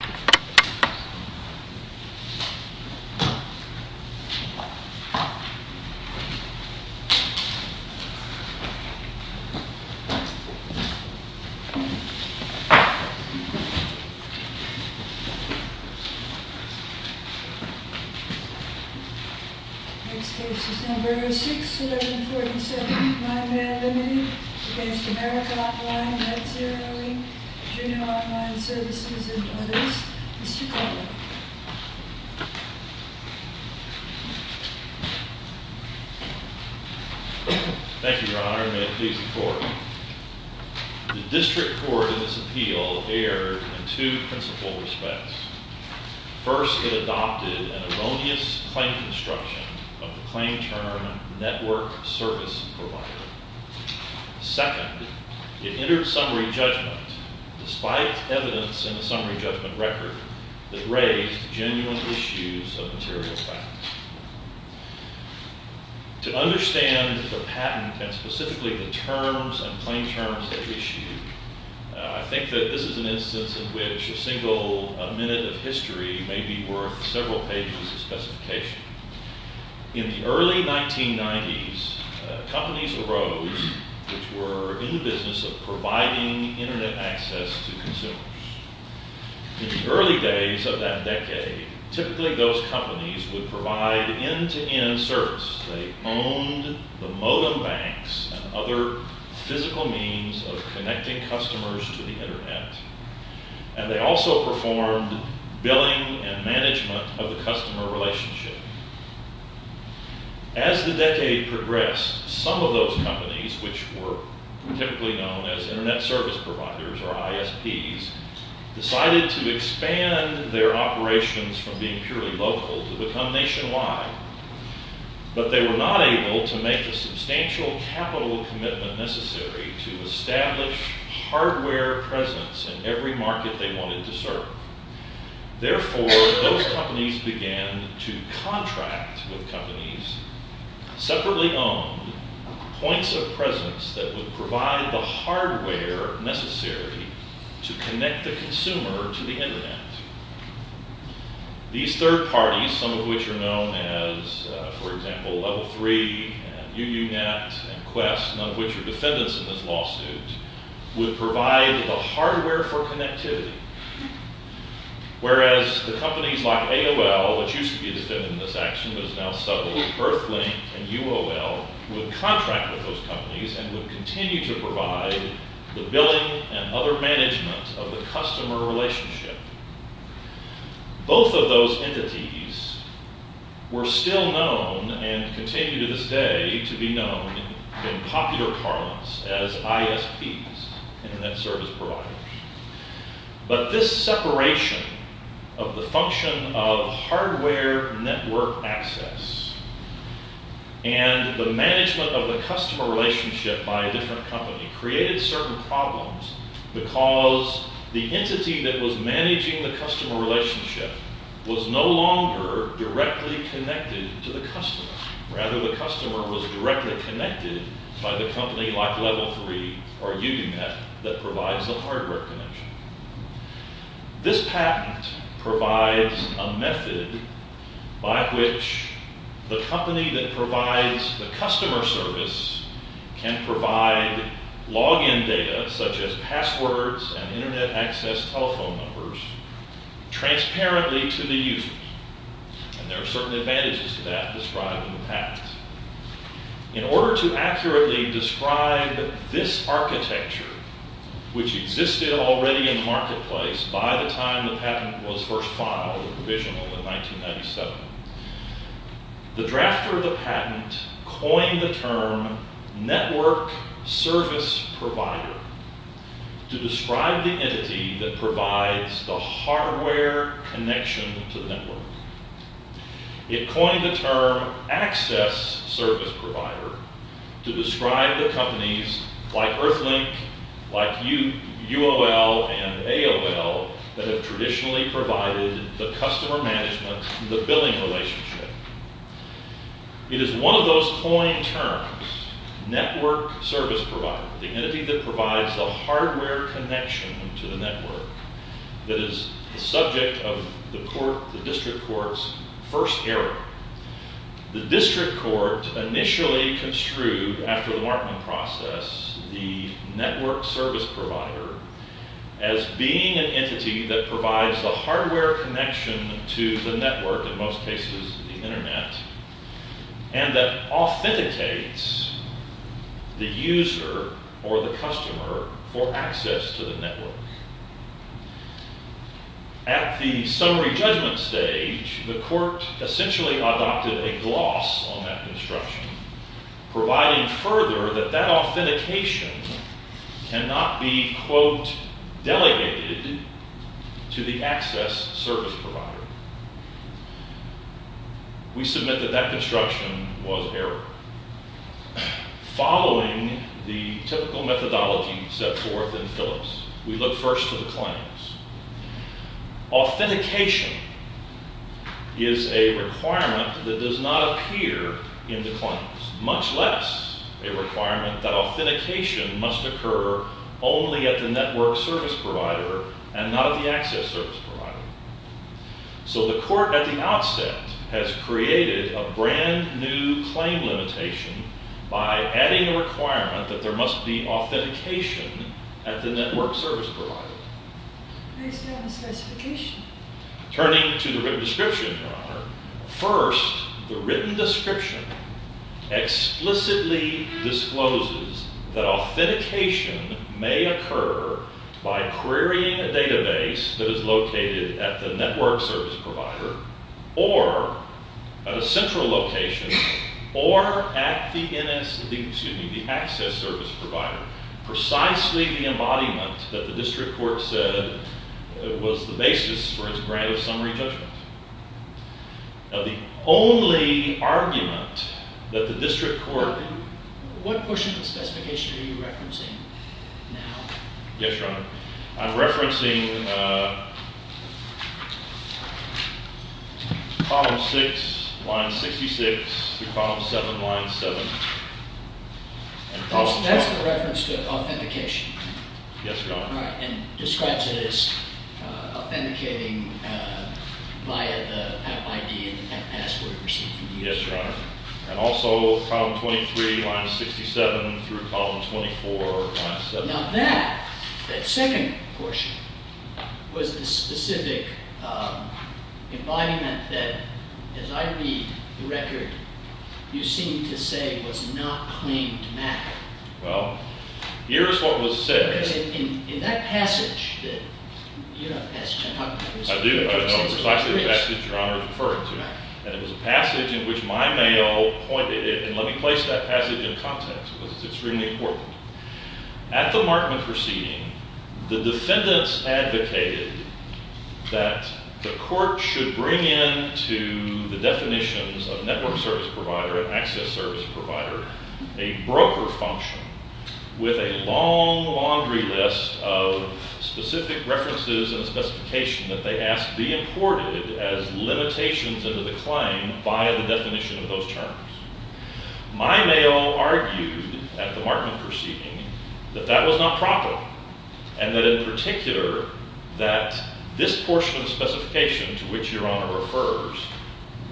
Next case is number 06-1147, Mymail Ltd. v. America Online, Med Zero, Inc., Junior Online Services, and others. The District Court in this appeal erred in two principal respects. First, it adopted an erroneous claim construction of the claim term network service provider. Second, it entered summary judgment despite evidence in the summary judgment record that raised genuine issues of material facts. To understand the patent and specifically the terms and claim terms at issue, I think that this is an instance in which a single minute of history may be worth several pages of specification. In the early 1990s, companies arose which were in the business of providing Internet access to consumers. In the early days of that decade, typically those companies would provide end-to-end service. They owned the modem banks and other physical means of connecting customers to the Internet. And they also performed billing and management of the customer relationship. As the decade progressed, some of those companies, which were typically known as Internet Service Providers or ISPs, decided to expand their operations from being purely local to become nationwide. But they were not able to make the substantial capital commitment necessary to establish hardware presence in every market they wanted to serve. Therefore, those companies began to contract with companies, separately owned, points of presence that would provide the hardware necessary to connect the consumer to the Internet. These third parties, some of which are known as, for example, Level 3 and UUNet and Quest, none of which are defendants in this lawsuit, would provide the hardware for connectivity. Whereas the companies like AOL, which used to be a defendant in this action but is now settled, Earthlink and UOL would contract with those companies and would continue to provide the billing and other management of the customer relationship. Both of those entities were still known and continue to this day to be known in popular parlance as ISPs, Internet Service Providers. But this separation of the function of hardware network access and the management of the customer relationship by a different company created certain problems because the entity that was managing the customer relationship was no longer directly connected to the customer. This patent provides a method by which the company that provides the customer service can provide login data, such as passwords and Internet access telephone numbers, transparently to the user. And there are certain advantages to that described in the patent. In order to accurately describe this architecture, which existed already in the marketplace by the time the patent was first filed and provisional in 1997, the drafter of the patent coined the term network service provider to describe the entity that provides the hardware connection to the network. It coined the term access service provider to describe the companies like Earthlink, like UOL and AOL that have traditionally provided the customer management and the billing relationship. It is one of those coined terms, network service provider, the entity that provides the hardware connection to the network, that is the subject of the District Court's first hearing. The District Court initially construed, after the Markman process, the network service provider as being an entity that provides the hardware connection to the network, in most cases the Internet, and that authenticates the user or the customer for access to the network. At the summary judgment stage, the Court essentially adopted a gloss on that construction, providing further that that authentication cannot be, quote, delegated to the access service provider. We submit that that construction was error. Following the typical methodology set forth in Phillips, we look first to the claims. Authentication is a requirement that does not appear in the claims, much less a requirement that authentication must occur only at the network service provider and not at the access service provider. So the Court, at the outset, has created a brand new claim limitation by adding a requirement that there must be authentication at the network service provider. I understand the specification. by querying a database that is located at the network service provider or at a central location or at the access service provider. Precisely the embodiment that the District Court said was the basis for its grant of summary judgment. Now, the only argument that the District Court… What portion of the specification are you referencing now? Yes, Your Honor. I'm referencing Column 6, Line 66 through Column 7, Line 7. That's the reference to authentication? Yes, Your Honor. All right, and describes it as authenticating via the app ID and password received from the user. Yes, Your Honor. And also Column 23, Line 67 through Column 24, Line 7. Now that, that second portion, was the specific embodiment that, as I read the record, you seem to say was not claimed to matter. Well, here is what was said. In that passage that… I do know precisely the passage Your Honor is referring to. And it was a passage in which my mail pointed it. And let me place that passage in context because it's extremely important. At the Markman proceeding, the defendants advocated that the court should bring in to the definitions of network service provider and access service provider a broker function with a long laundry list of specific references and specifications that they asked be imported as limitations under the claim by the definition of those terms. My mail argued at the Markman proceeding that that was not proper. And that in particular, that this portion of the specification to which Your Honor refers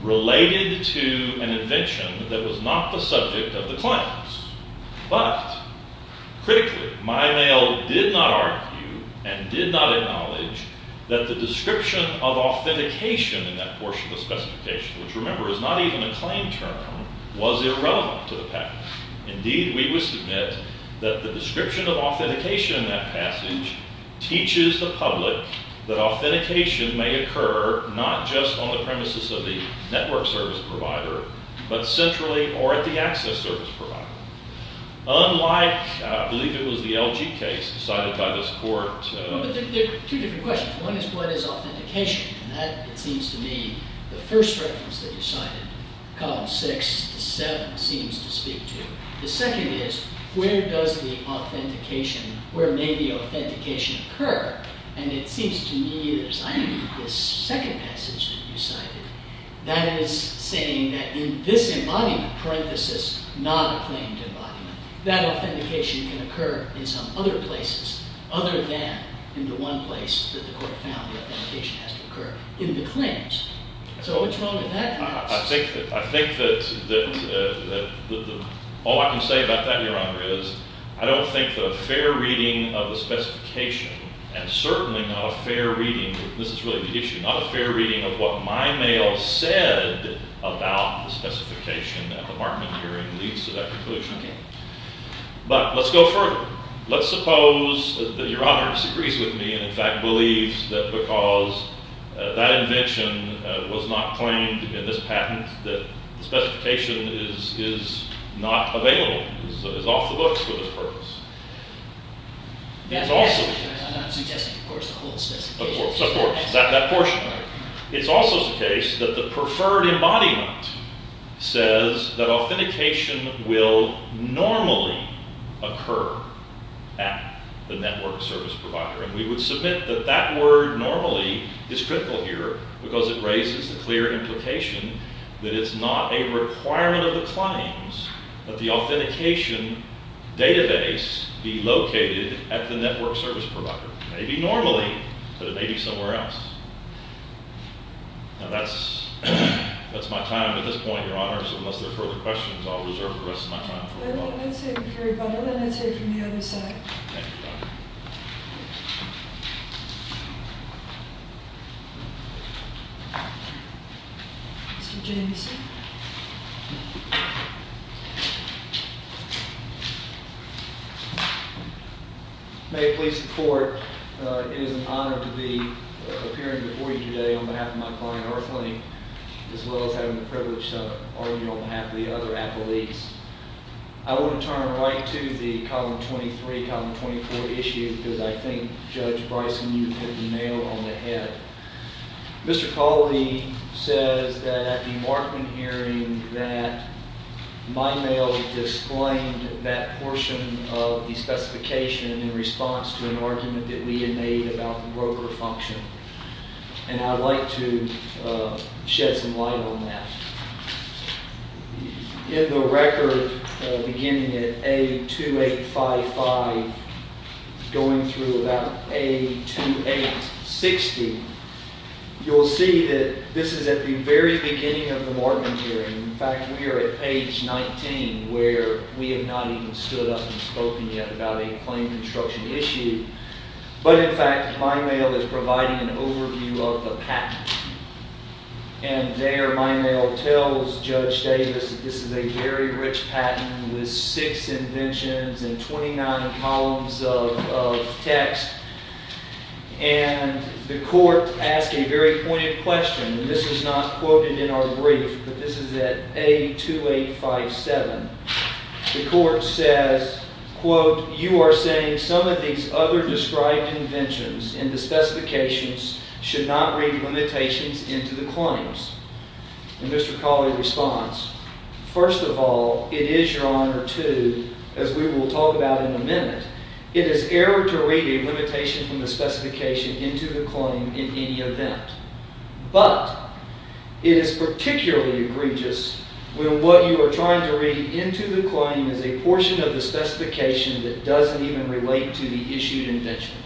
related to an invention that was not the subject of the claims. But, critically, my mail did not argue and did not acknowledge that the description of authentication in that portion of the specification, which remember is not even a claim term, was irrelevant to the patent. Indeed, we would submit that the description of authentication in that passage teaches the public that authentication may occur not just on the premises of the network service provider, but centrally or at the access service provider. Unlike, I believe it was the LG case decided by this court… No, but there are two different questions. One is what is authentication? And that, it seems to me, the first reference that you cited, column six to seven, seems to speak to. The second is, where does the authentication, where may the authentication occur? And it seems to me that it's this second passage that you cited that is saying that in this embodiment, parenthesis, not a claimed embodiment, that authentication can occur in some other places other than in the one place that the court found the authentication has to occur, in the claims. So what's wrong with that? I think that all I can say about that, Your Honor, is I don't think the fair reading of the specification, and certainly not a fair reading, this is really the issue, not a fair reading of what my mail said about the specification at the Markman hearing leads to that conclusion. But let's go further. Let's suppose that Your Honor disagrees with me and in fact believes that because that invention was not claimed in this patent, that the specification is not available, is off the books for this purpose. It's also the case that the preferred embodiment says that authentication will normally occur at the network service provider. And we would submit that that word normally is critical here because it raises the clear implication that it's not a requirement of the claims, that the authentication database be located at the network service provider. It may be normally, but it may be somewhere else. Now that's my time at this point, Your Honors, unless there are further questions, I'll reserve the rest of my time for a while. Let's hear it from the other side. Thank you, Your Honor. Mr. Jameson. May it please the Court, it is an honor to be appearing before you today on behalf of my client, Earthling, as well as having the privilege to argue on behalf of the other appellees. I want to turn right to the Column 23, Column 24 issue because I think Judge Bryson, you hit the nail on the head. Mr. Cawley says that at the Markman hearing that my mail explained that portion of the specification in response to an argument that we had made about the broker function. And I'd like to shed some light on that. In the record beginning at A2855 going through about A2860, you'll see that this is at the very beginning of the Markman hearing. In fact, we are at page 19 where we have not even stood up and spoken yet about a claim construction issue. But in fact, my mail is providing an overview of the patent. And there my mail tells Judge Davis that this is a very rich patent with six inventions and 29 columns of text. And the Court asked a very pointed question. This is not quoted in our brief, but this is at A2857. The Court says, quote, you are saying some of these other described inventions in the specifications should not read limitations into the claims. And Mr. Cawley responds, first of all, it is your honor to, as we will talk about in a minute, it is error to read a limitation from the specification into the claim in any event. But it is particularly egregious when what you are trying to read into the claim is a portion of the specification that doesn't even relate to the issued invention.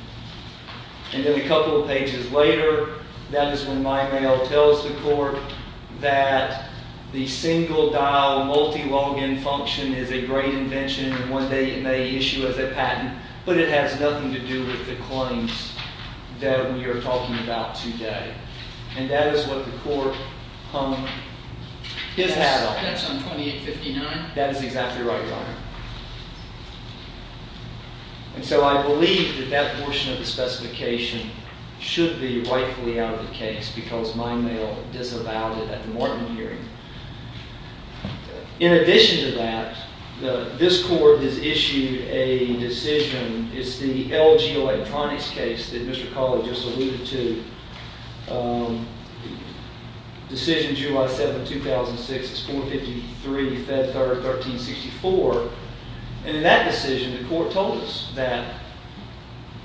And then a couple of pages later, that is when my mail tells the Court that the single dial multi-login function is a great invention and one day it may issue as a patent. But it has nothing to do with the claims that we are talking about today. And that is what the Court hung his hat on. That's on A2859? That is exactly right, your honor. And so I believe that that portion of the specification should be rightfully out of the case because my mail disavowed it at the morning hearing. In addition to that, this Court has issued a decision. It's the LG Electronics case that Mr. Cawley just alluded to. Decision July 7, 2006. It's 453 Fed 1364. And in that decision, the Court told us that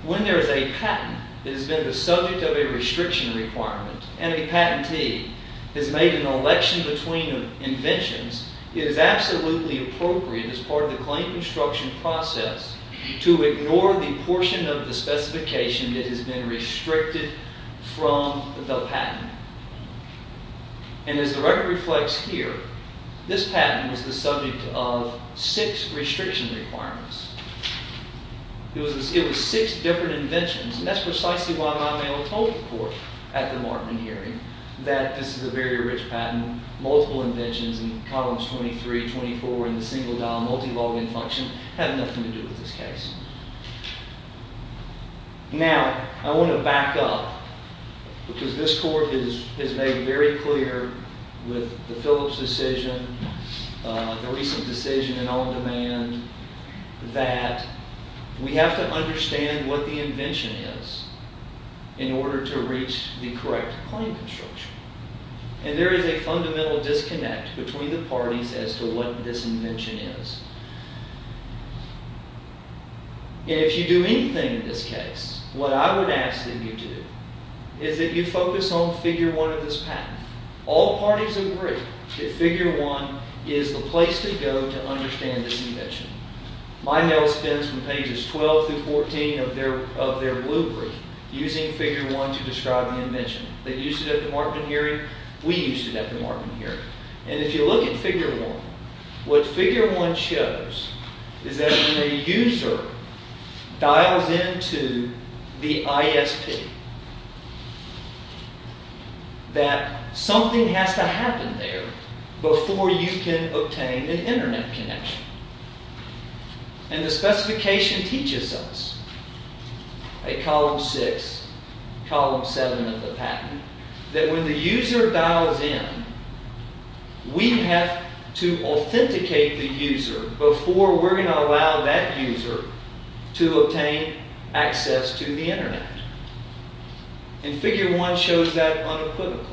when there is a patent that has been the subject of a restriction requirement and a patentee has made an election between inventions, it is absolutely appropriate as part of the claim construction process to ignore the portion of the specification that has been restricted from the patent. And as the record reflects here, this patent is the subject of six restriction requirements. It was six different inventions. And that's precisely why my mail told the Court at the morning hearing that this is a very rich patent. Multiple inventions in columns 23, 24 in the single dial multi-login function have nothing to do with this case. Now, I want to back up because this Court has made very clear with the Phillips decision, the recent decision in on demand, that we have to understand what the invention is in order to reach the correct claim construction. And there is a fundamental disconnect between the parties as to what this invention is. And if you do anything in this case, what I would ask that you do is that you focus on figure one of this patent. All parties agree that figure one is the place to go to understand this invention. My mail spins from pages 12 through 14 of their blueprint using figure one to describe the invention. They used it at the Markman hearing. We used it at the Markman hearing. And if you look at figure one, what figure one shows is that when a user dials in to the ISP, that something has to happen there before you can obtain an internet connection. And the specification teaches us, at column six, column seven of the patent, that when the user dials in, we have to authenticate the user before we're going to allow that user to obtain access to the internet. And figure one shows that unequivocally.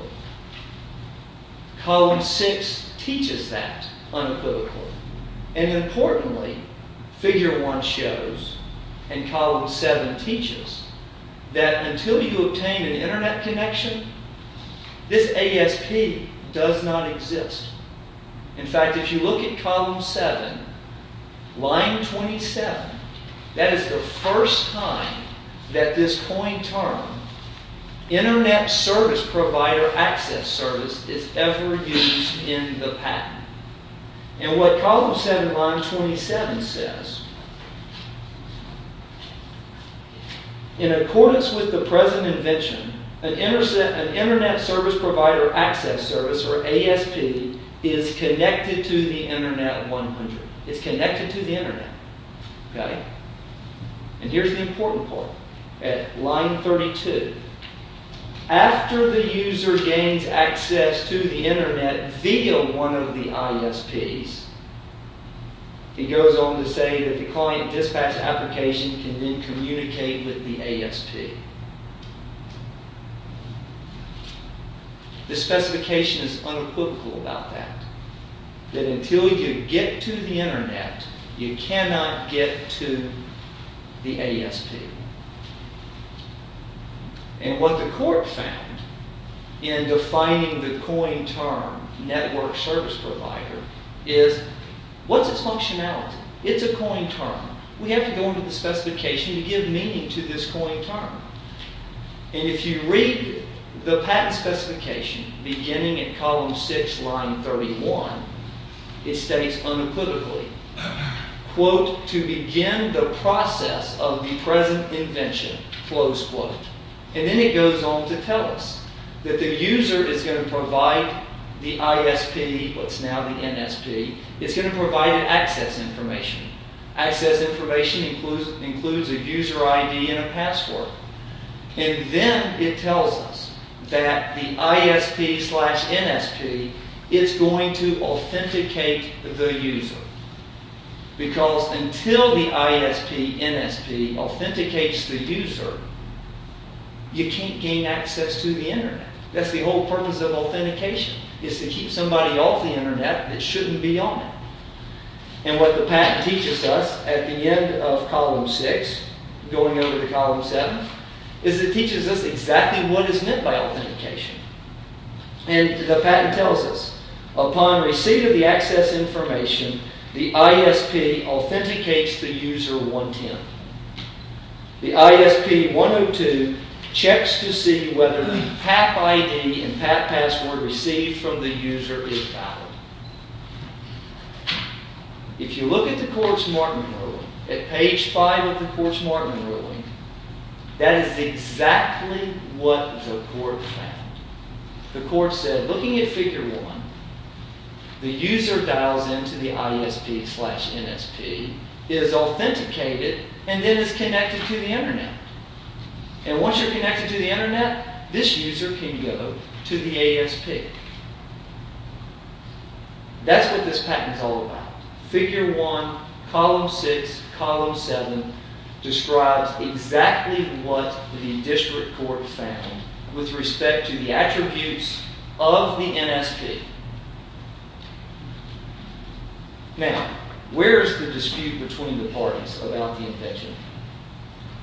Column six teaches that unequivocally. And importantly, figure one shows, and column seven teaches, that until you obtain an internet connection, this ASP does not exist. In fact, if you look at column seven, line 27, that is the first time that this coined term, internet service provider access service, is ever used in the patent. And what column seven, line 27, says, in accordance with the present invention, an internet service provider access service, or ASP, is connected to the internet 100. It's connected to the internet. And here's the important part. At line 32, after the user gains access to the internet via one of the ISPs, it goes on to say that the client dispatch application can then communicate with the ASP. The specification is unequivocal about that. That until you get to the internet, you cannot get to the ASP. And what the court found in defining the coined term, network service provider, is what's its functionality? It's a coined term. We have to go into the specification to give meaning to this coined term. And if you read the patent specification, beginning at column six, line 31, it states unequivocally, quote, to begin the process of the present invention, close quote. And then it goes on to tell us that the user is going to provide the ISP, what's now the NSP, it's going to provide access information. Access information includes a user ID and a password. And then it tells us that the ISP slash NSP is going to authenticate the user. Because until the ISP NSP authenticates the user, you can't gain access to the internet. That's the whole purpose of authentication, is to keep somebody off the internet that shouldn't be on it. And what the patent teaches us at the end of column six, going over to column seven, is it teaches us exactly what is meant by authentication. And the patent tells us, upon receipt of the access information, the ISP authenticates the user 110. The ISP 102 checks to see whether the PAP ID and PAP password received from the user is valid. If you look at the court's marking ruling, at page five of the court's marking ruling, that is exactly what the court found. The court said, looking at figure one, the user dials into the ISP slash NSP, is authenticated, and then is connected to the internet. And once you're connected to the internet, this user can go to the ASP. That's what this patent is all about. Figure one, column six, column seven, describes exactly what the district court found with respect to the attributes of the NSP. Now, where is the dispute between the parties about the infection?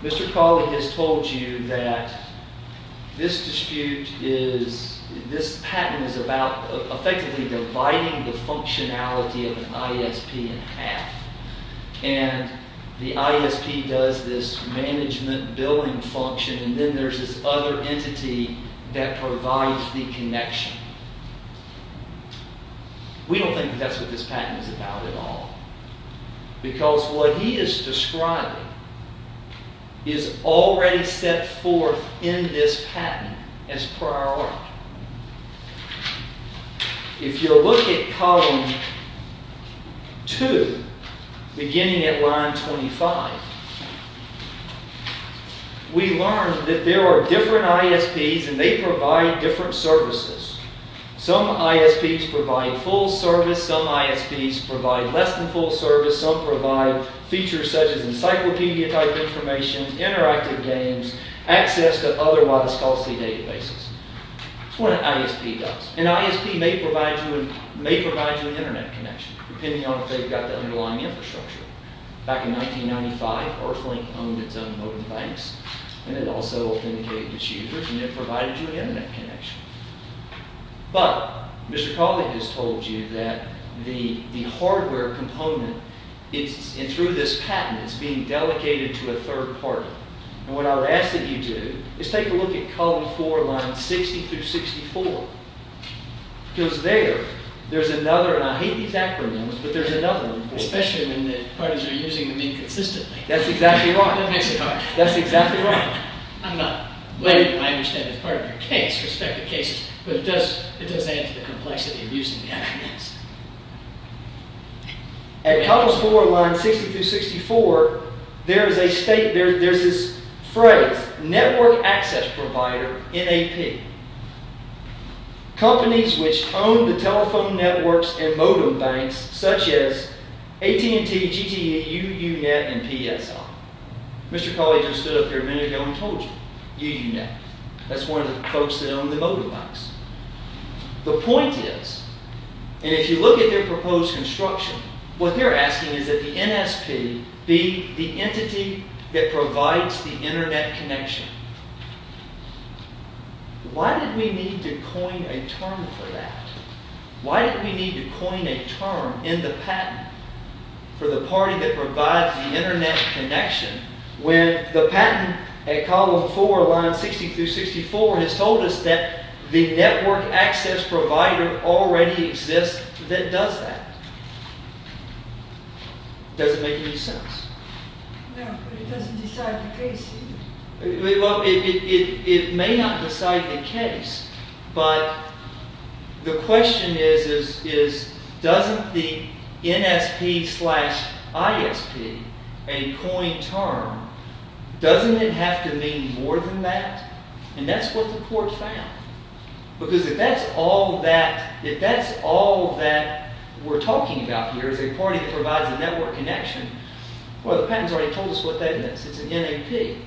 Mr. Colley has told you that this dispute is, this patent is about effectively dividing the functionality of an ISP in half. And the ISP does this management billing function, and then there's this other entity that provides the connection. We don't think that's what this patent is about at all. Because what he is describing is already set forth in this patent as prior art. If you look at column two, beginning at line 25, we learn that there are different ISPs, and they provide different services. Some ISPs provide full service, some ISPs provide less than full service, some provide features such as encyclopedia type information, interactive games, access to otherwise costly databases. That's what an ISP does. An ISP may provide you an internet connection, depending on if they've got the underlying infrastructure. Back in 1995, Earthlink owned its own mobile device, and it also authenticated its users, and it provided you an internet connection. But Mr. Colley has told you that the hardware component, and through this patent, is being delegated to a third party. And what I would ask that you do is take a look at column four, lines 60 through 64. Because there, there's another, and I hate these acronyms, but there's another important... Especially when the parties are using them inconsistently. That's exactly right. That makes it hard. That's exactly right. I'm not, I understand it's part of your case, respective cases, but it does add to the complexity of using the acronyms. At columns four, lines 60 through 64, there is a state, there's this phrase, network access provider, NAP. Companies which own the telephone networks and modem banks, such as AT&T, GTE, UUNet, and PSL. Mr. Colley just stood up here a minute ago and told you, UUNet. That's one of the folks that own the modem banks. The point is, and if you look at their proposed construction, what they're asking is that the NSP be the entity that provides the internet connection. Why did we need to coin a term for that? Why did we need to coin a term in the patent for the party that provides the internet connection when the patent at column four, lines 60 through 64, has told us that the network access provider already exists that does that? Does it make any sense? No, but it doesn't decide the case either. Well, it may not decide the case, but the question is, doesn't the NSP slash ISP, a coin term, doesn't it have to mean more than that? And that's what the court found. Because if that's all that we're talking about here, is a party that provides the network connection, well, the patent's already told us what that is. It's an NAP.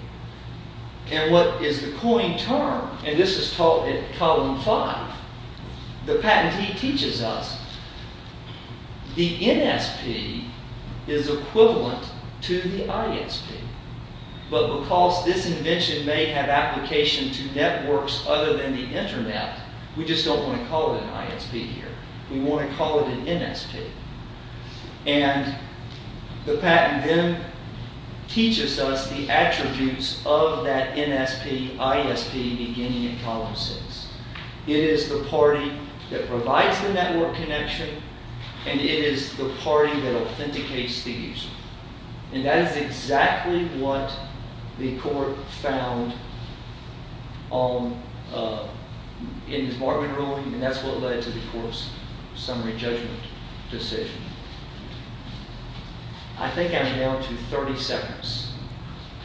And what is the coin term? And this is taught at column five. The patentee teaches us the NSP is equivalent to the ISP. But because this invention may have application to networks other than the internet, we just don't want to call it an ISP here. We want to call it an NSP. And the patent then teaches us the attributes of that NSP ISP beginning in column six. It is the party that provides the network connection, and it is the party that authenticates the user. And that is exactly what the court found in the department ruling, and that's what led to the court's summary judgment decision. I think I'm down to 30 seconds.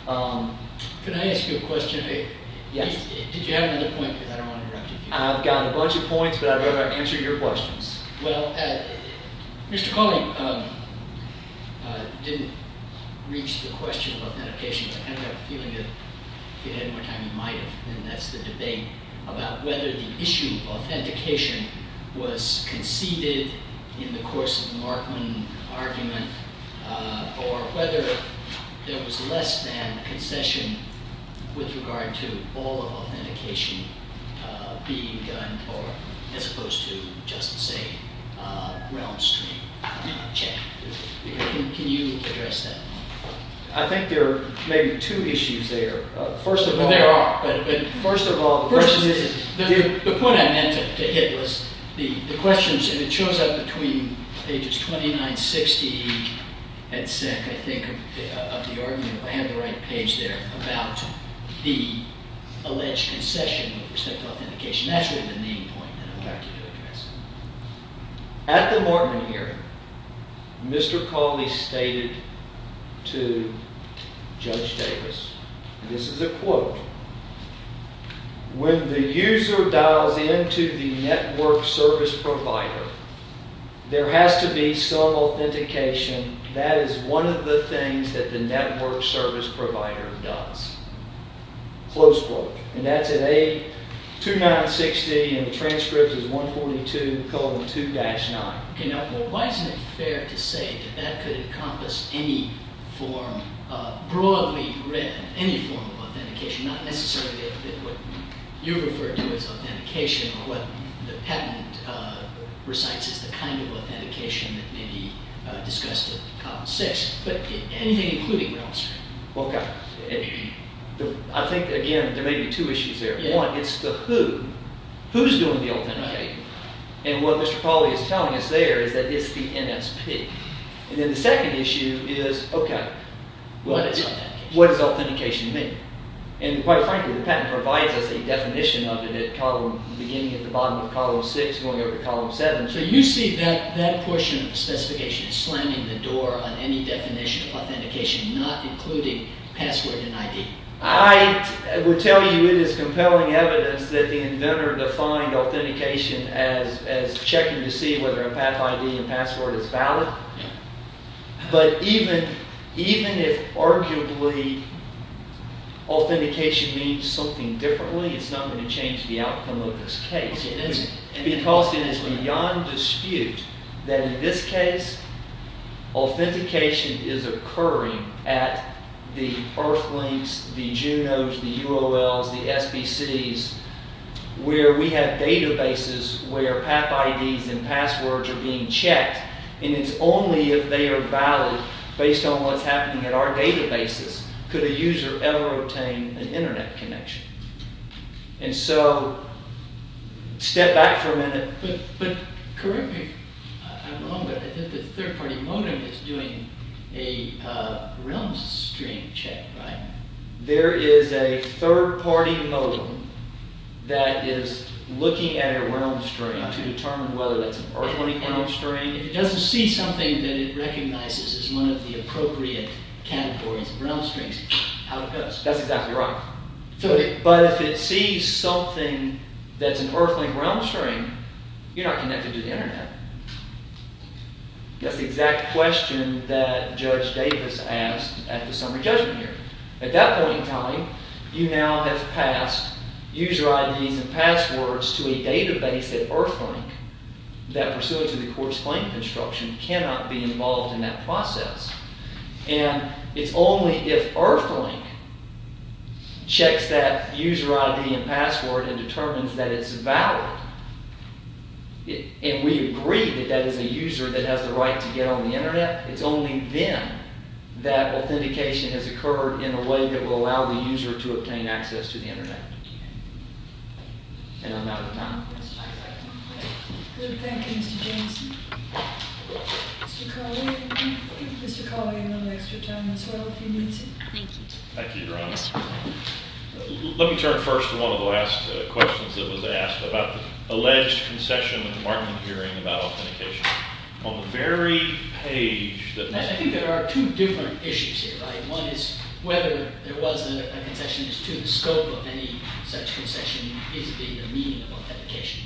Can I ask you a question? Yes. Did you have another point? Because I don't want to interrupt you. I've got a bunch of points, but I'd rather answer your questions. Well, Mr. Cawley didn't reach the question of authentication, but I kind of have a feeling that if he had more time, he might have. And that's the debate about whether the issue of authentication was conceded in the course of the Markman argument or whether there was less than concession with regard to all authentication being done as opposed to just, say, a ground-stream check. Can you address that? I think there are maybe two issues there. First of all, the point I meant to hit was the questions, and it shows up between pages 29, 60, and 60, I think, of the argument, if I have the right page there, about the alleged concession with respect to authentication. That's really the main point that I'm about to address. At the Markman hearing, Mr. Cawley stated to Judge Davis and this is a quote, when the user dials into the network service provider, there has to be some authentication. That is one of the things that the network service provider does. Close quote. And that's at page 29, 60, and the transcript is 142, column 2-9. Why isn't it fair to say that that could encompass any form, broadly read, any form of authentication, not necessarily what you refer to as authentication or what the patent recites as the kind of authentication that may be discussed in column 6, but anything including ground-stream? I think, again, there may be two issues there. One, it's the who. Who's doing the authenticating? And what Mr. Cawley is telling us there is that it's the NSP. And then the second issue is, okay, what does authentication mean? And quite frankly, the patent provides us a definition of it at the beginning of the bottom of column 6, going over to column 7. So you see that portion of the specification slamming the door on any definition of authentication, not including password and ID? I would tell you it is compelling evidence that the inventor defined authentication as checking to see whether a path ID and password is valid. But even if arguably authentication means something differently, it's not going to change the outcome of this case. Because it is beyond dispute that in this case authentication is occurring at the Earthlinks, the Junos, the UOLs, the SBCs, where we have databases where path IDs and passwords are being checked. And it's only if they are valid based on what's happening in our databases could a user ever obtain an Internet connection. And so step back for a minute. But correct me if I'm wrong, but I think the third-party modem is doing a RealmString check, right? There is a third-party modem that is looking at a RealmString to determine whether it's an Earthlink RealmString. If it doesn't see something that it recognizes as one of the appropriate categories of RealmStrings, out it goes. That's exactly right. But if it sees something that's an Earthlink RealmString, you're not connected to the Internet. That's the exact question that Judge Davis asked at the summary judgment hearing. At that point in time, you now have passed user IDs and passwords to a database at Earthlink that pursuant to the court's plaintiff instruction cannot be involved in that process. And it's only if Earthlink checks that user ID and password and determines that it's valid, and we agree that that is a user that has the right to get on the Internet, it's only then that authentication has occurred in a way that will allow the user to obtain access to the Internet. And I'm out of time. Good. Thank you, Mr. Jameson. Mr. Colley, I think Mr. Colley would like to return as well if he needs it. Thank you. Thank you, Your Honor. Let me turn first to one of the last questions that was asked about the alleged concession in the department hearing about authentication. On the very page that... I think there are two different issues here, right? One is whether there was a concession, and the other question is to the scope of any such concession, is there a meaning of authentication?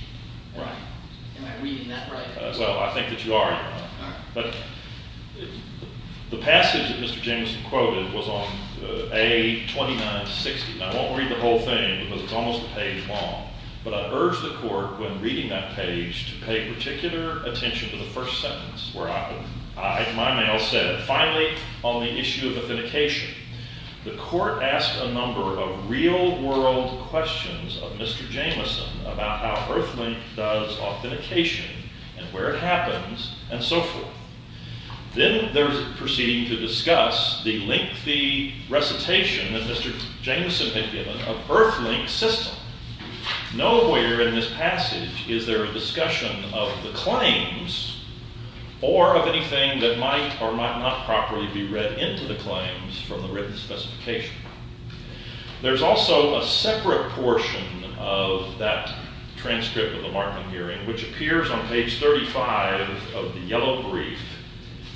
Right. Am I reading that right? Well, I think that you are, Your Honor. But the passage that Mr. Jameson quoted was on A2960, and I won't read the whole thing because it's almost a page long, but I urge the court, when reading that page, to pay particular attention to the first sentence, where my mail said, And finally, on the issue of authentication, the court asked a number of real-world questions of Mr. Jameson about how Earthlink does authentication and where it happens and so forth. Then they're proceeding to discuss the lengthy recitation that Mr. Jameson had given of Earthlink's system. Nowhere in this passage is there a discussion of the claims or of anything that might or might not properly be read into the claims from the written specification. There's also a separate portion of that transcript of the Markman hearing, which appears on page 35 of the yellow brief,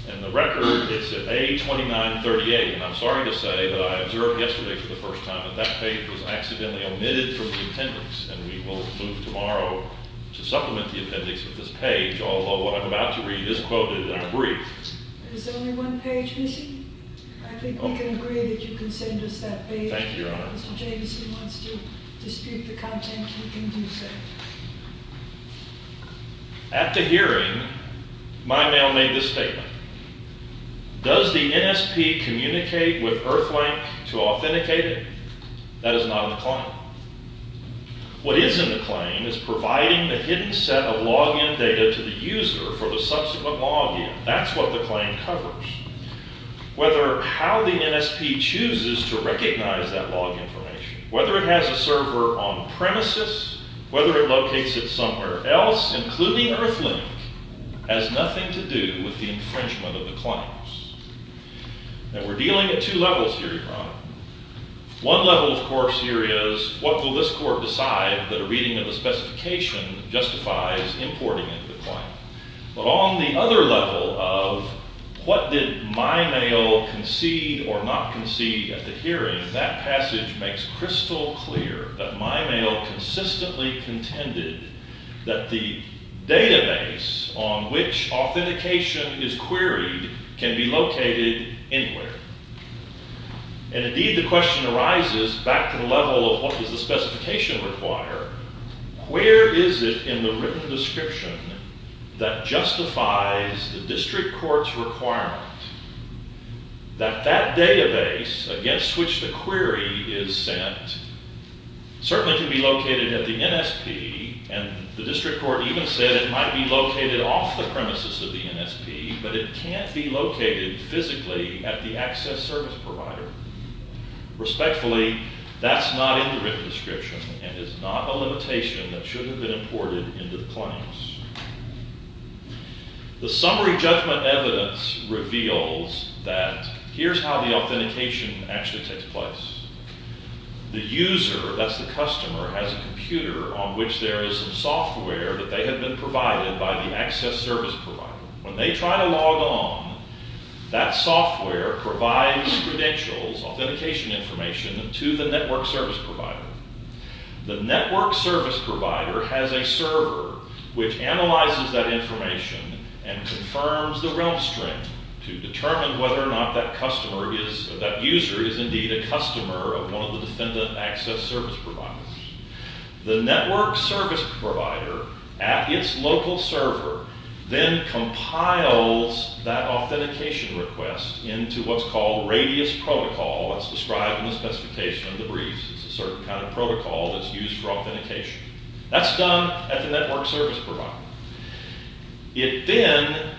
and the record is at A2938, and I'm sorry to say that I observed yesterday for the first time that that page was accidentally omitted from the appendix, although what I'm about to read is quoted in the brief. Is there only one page missing? I think we can agree that you can send us that page. Thank you, Your Honor. If Mr. Jameson wants to dispute the content, he can do so. At the hearing, my mail made the statement, Does the NSP communicate with Earthlink to authenticate it? That is not in the claim. What is in the claim is providing the hidden set of log-in data to the user for the subsequent log-in. That's what the claim covers. Whether how the NSP chooses to recognize that log information, whether it has a server on premises, whether it locates it somewhere else, including Earthlink, has nothing to do with the infringement of the claims. Now, we're dealing at two levels here, Your Honor. One level, of course, here is, What will this court decide that a reading of the specification justifies importing into the claim? But on the other level of, What did my mail concede or not concede at the hearing? That passage makes crystal clear that my mail consistently contended that the database on which authentication is queried can be located anywhere. And indeed, the question arises back to the level of, What does the specification require? Where is it in the written description that justifies the district court's requirement that that database against which the query is sent certainly can be located at the NSP, and the district court even said it might be located off the premises of the NSP, but it can't be located physically at the access service provider. Respectfully, that's not in the written description and is not a limitation that should have been imported into the claims. The summary judgment evidence reveals that here's how the authentication actually takes place. The user, that's the customer, has a computer on which there is some software that they have been provided by the access service provider. When they try to log on, that software provides credentials, authentication information, to the network service provider. The network service provider has a server which analyzes that information and confirms the realm strength to determine whether or not that user is indeed a customer of one of the defendant access service providers. The network service provider, at its local server, then compiles that authentication request into what's called radius protocol, as described in the specification of the briefs. It's a certain kind of protocol that's used for authentication. That's done at the network service provider. It then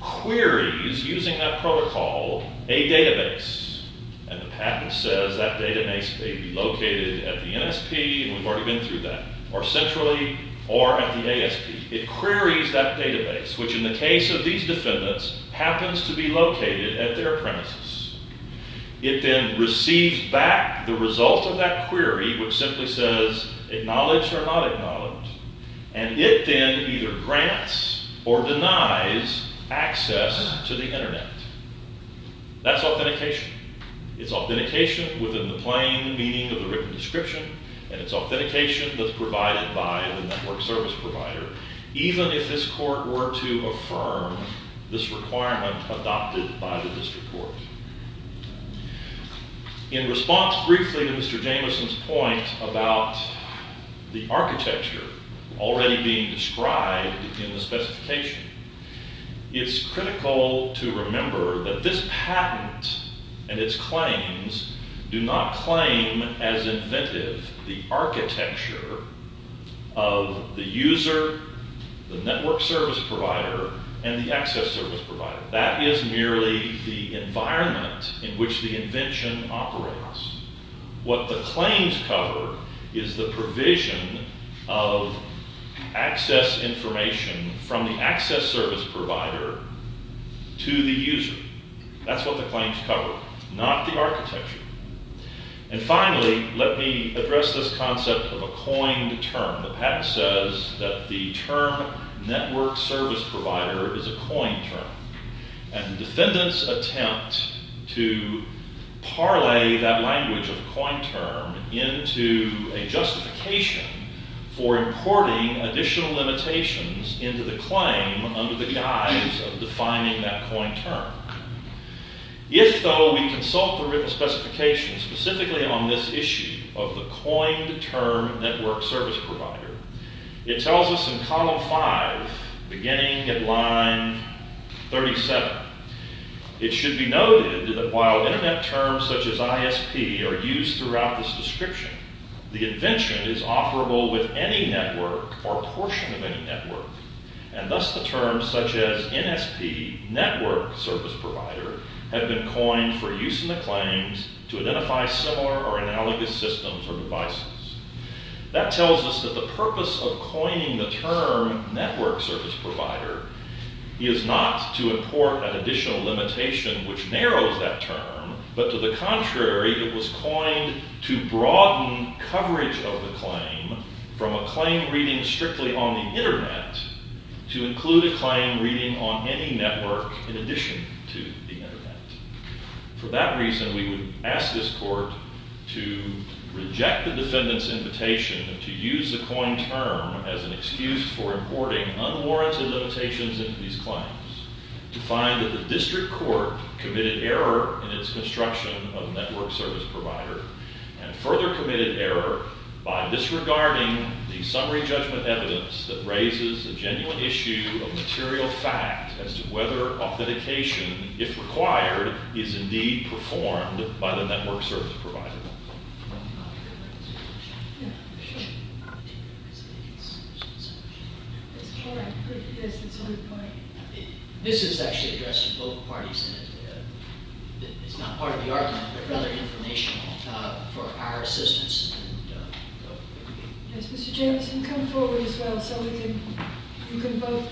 queries, using that protocol, a database, and the patent says that database may be located at the NSP, and we've already been through that, or centrally, or at the ASP. It queries that database, which, in the case of these defendants, happens to be located at their premises. It then receives back the result of that query, which simply says acknowledge or not acknowledge, and it then either grants or denies access to the Internet. That's authentication. It's authentication within the plain meaning of the written description, and it's authentication that's provided by the network service provider, even if this court were to affirm this requirement adopted by the district court. In response, briefly, to Mr. Jameson's point about the architecture already being described in the specification, it's critical to remember that this patent and its claims do not claim as inventive the architecture of the user, the network service provider, and the access service provider. That is merely the environment in which the invention operates. What the claims cover is the provision of access information from the access service provider to the user. That's what the claims cover, not the architecture. And finally, let me address this concept of a coined term. The patent says that the term network service provider is a coined term, and the defendants attempt to parlay that language of coined term into a justification for importing additional limitations into the claim under the guise of defining that coined term. If, though, we consult the written specification specifically on this issue of the coined term network service provider, it tells us in column five, beginning at line 37, it should be noted that while internet terms such as ISP are used throughout this description, the invention is offerable with any network or portion of any network, and thus the terms such as NSP, network service provider, have been coined for use in the claims to identify similar or analogous systems or devices. That tells us that the purpose of coining the term network service provider is not to import an additional limitation which narrows that term, but to the contrary, it was coined to broaden coverage of the claim from a claim reading strictly on the internet to include a claim reading on any network in addition to the internet. For that reason, we would ask this court to reject the defendant's invitation to use the coined term as an excuse for importing unwarranted limitations into these claims to find that the district court committed error in its construction of network service provider and further committed error by disregarding the summary judgment evidence that raises a genuine issue of material fact as to whether authentication, if required, is indeed performed by the network service provider. Yes, that's a good point. This is actually addressed to both parties, and it's not part of the argument, but rather informational for our assistance. Yes, Mr. Jamieson, come forward as well so we can both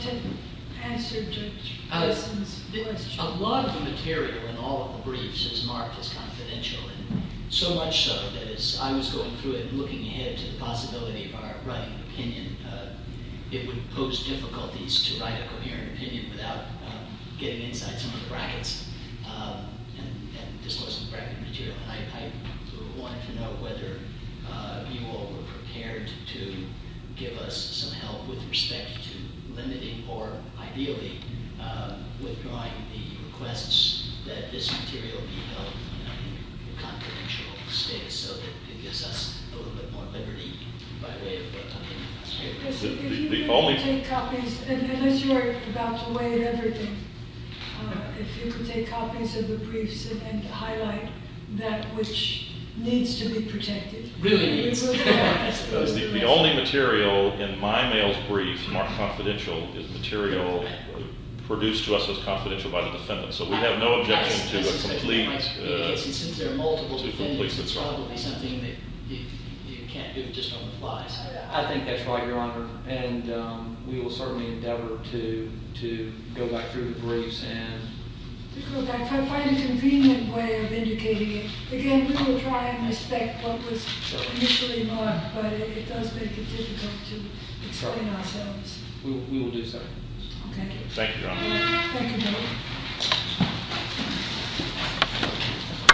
answer Judge Wilson's question. A lot of the material in all of the briefs is marked as confidential and so much so that as I was going through it and looking ahead to the possibility of our writing opinion, it would pose difficulties to write a coherent opinion without getting inside some of the brackets and disclosing the bracket material. I wanted to know whether you all were prepared to give us some help with respect to limiting or ideally withdrawing the requests that this material be held in a confidential state so that it gives us a little bit more liberty by way of what's on the newspaper. Unless you are about to weigh everything, if you could take copies of the briefs and highlight that which needs to be protected. Really needs. The only material in my mail's brief marked confidential is material produced to us as confidential by the defendant. So we have no objection to a complete... Since there are multiple defendants, it's probably something that you can't do just on the fly. I think that's right, Your Honor. And we will certainly endeavor to go back through the briefs and... To go back, find a convenient way of indicating it. Again, we will try and respect what was initially marked, but it does make it difficult to explain ourselves. We will do so. Thank you. Thank you, Your Honor. Thank you, Your Honor.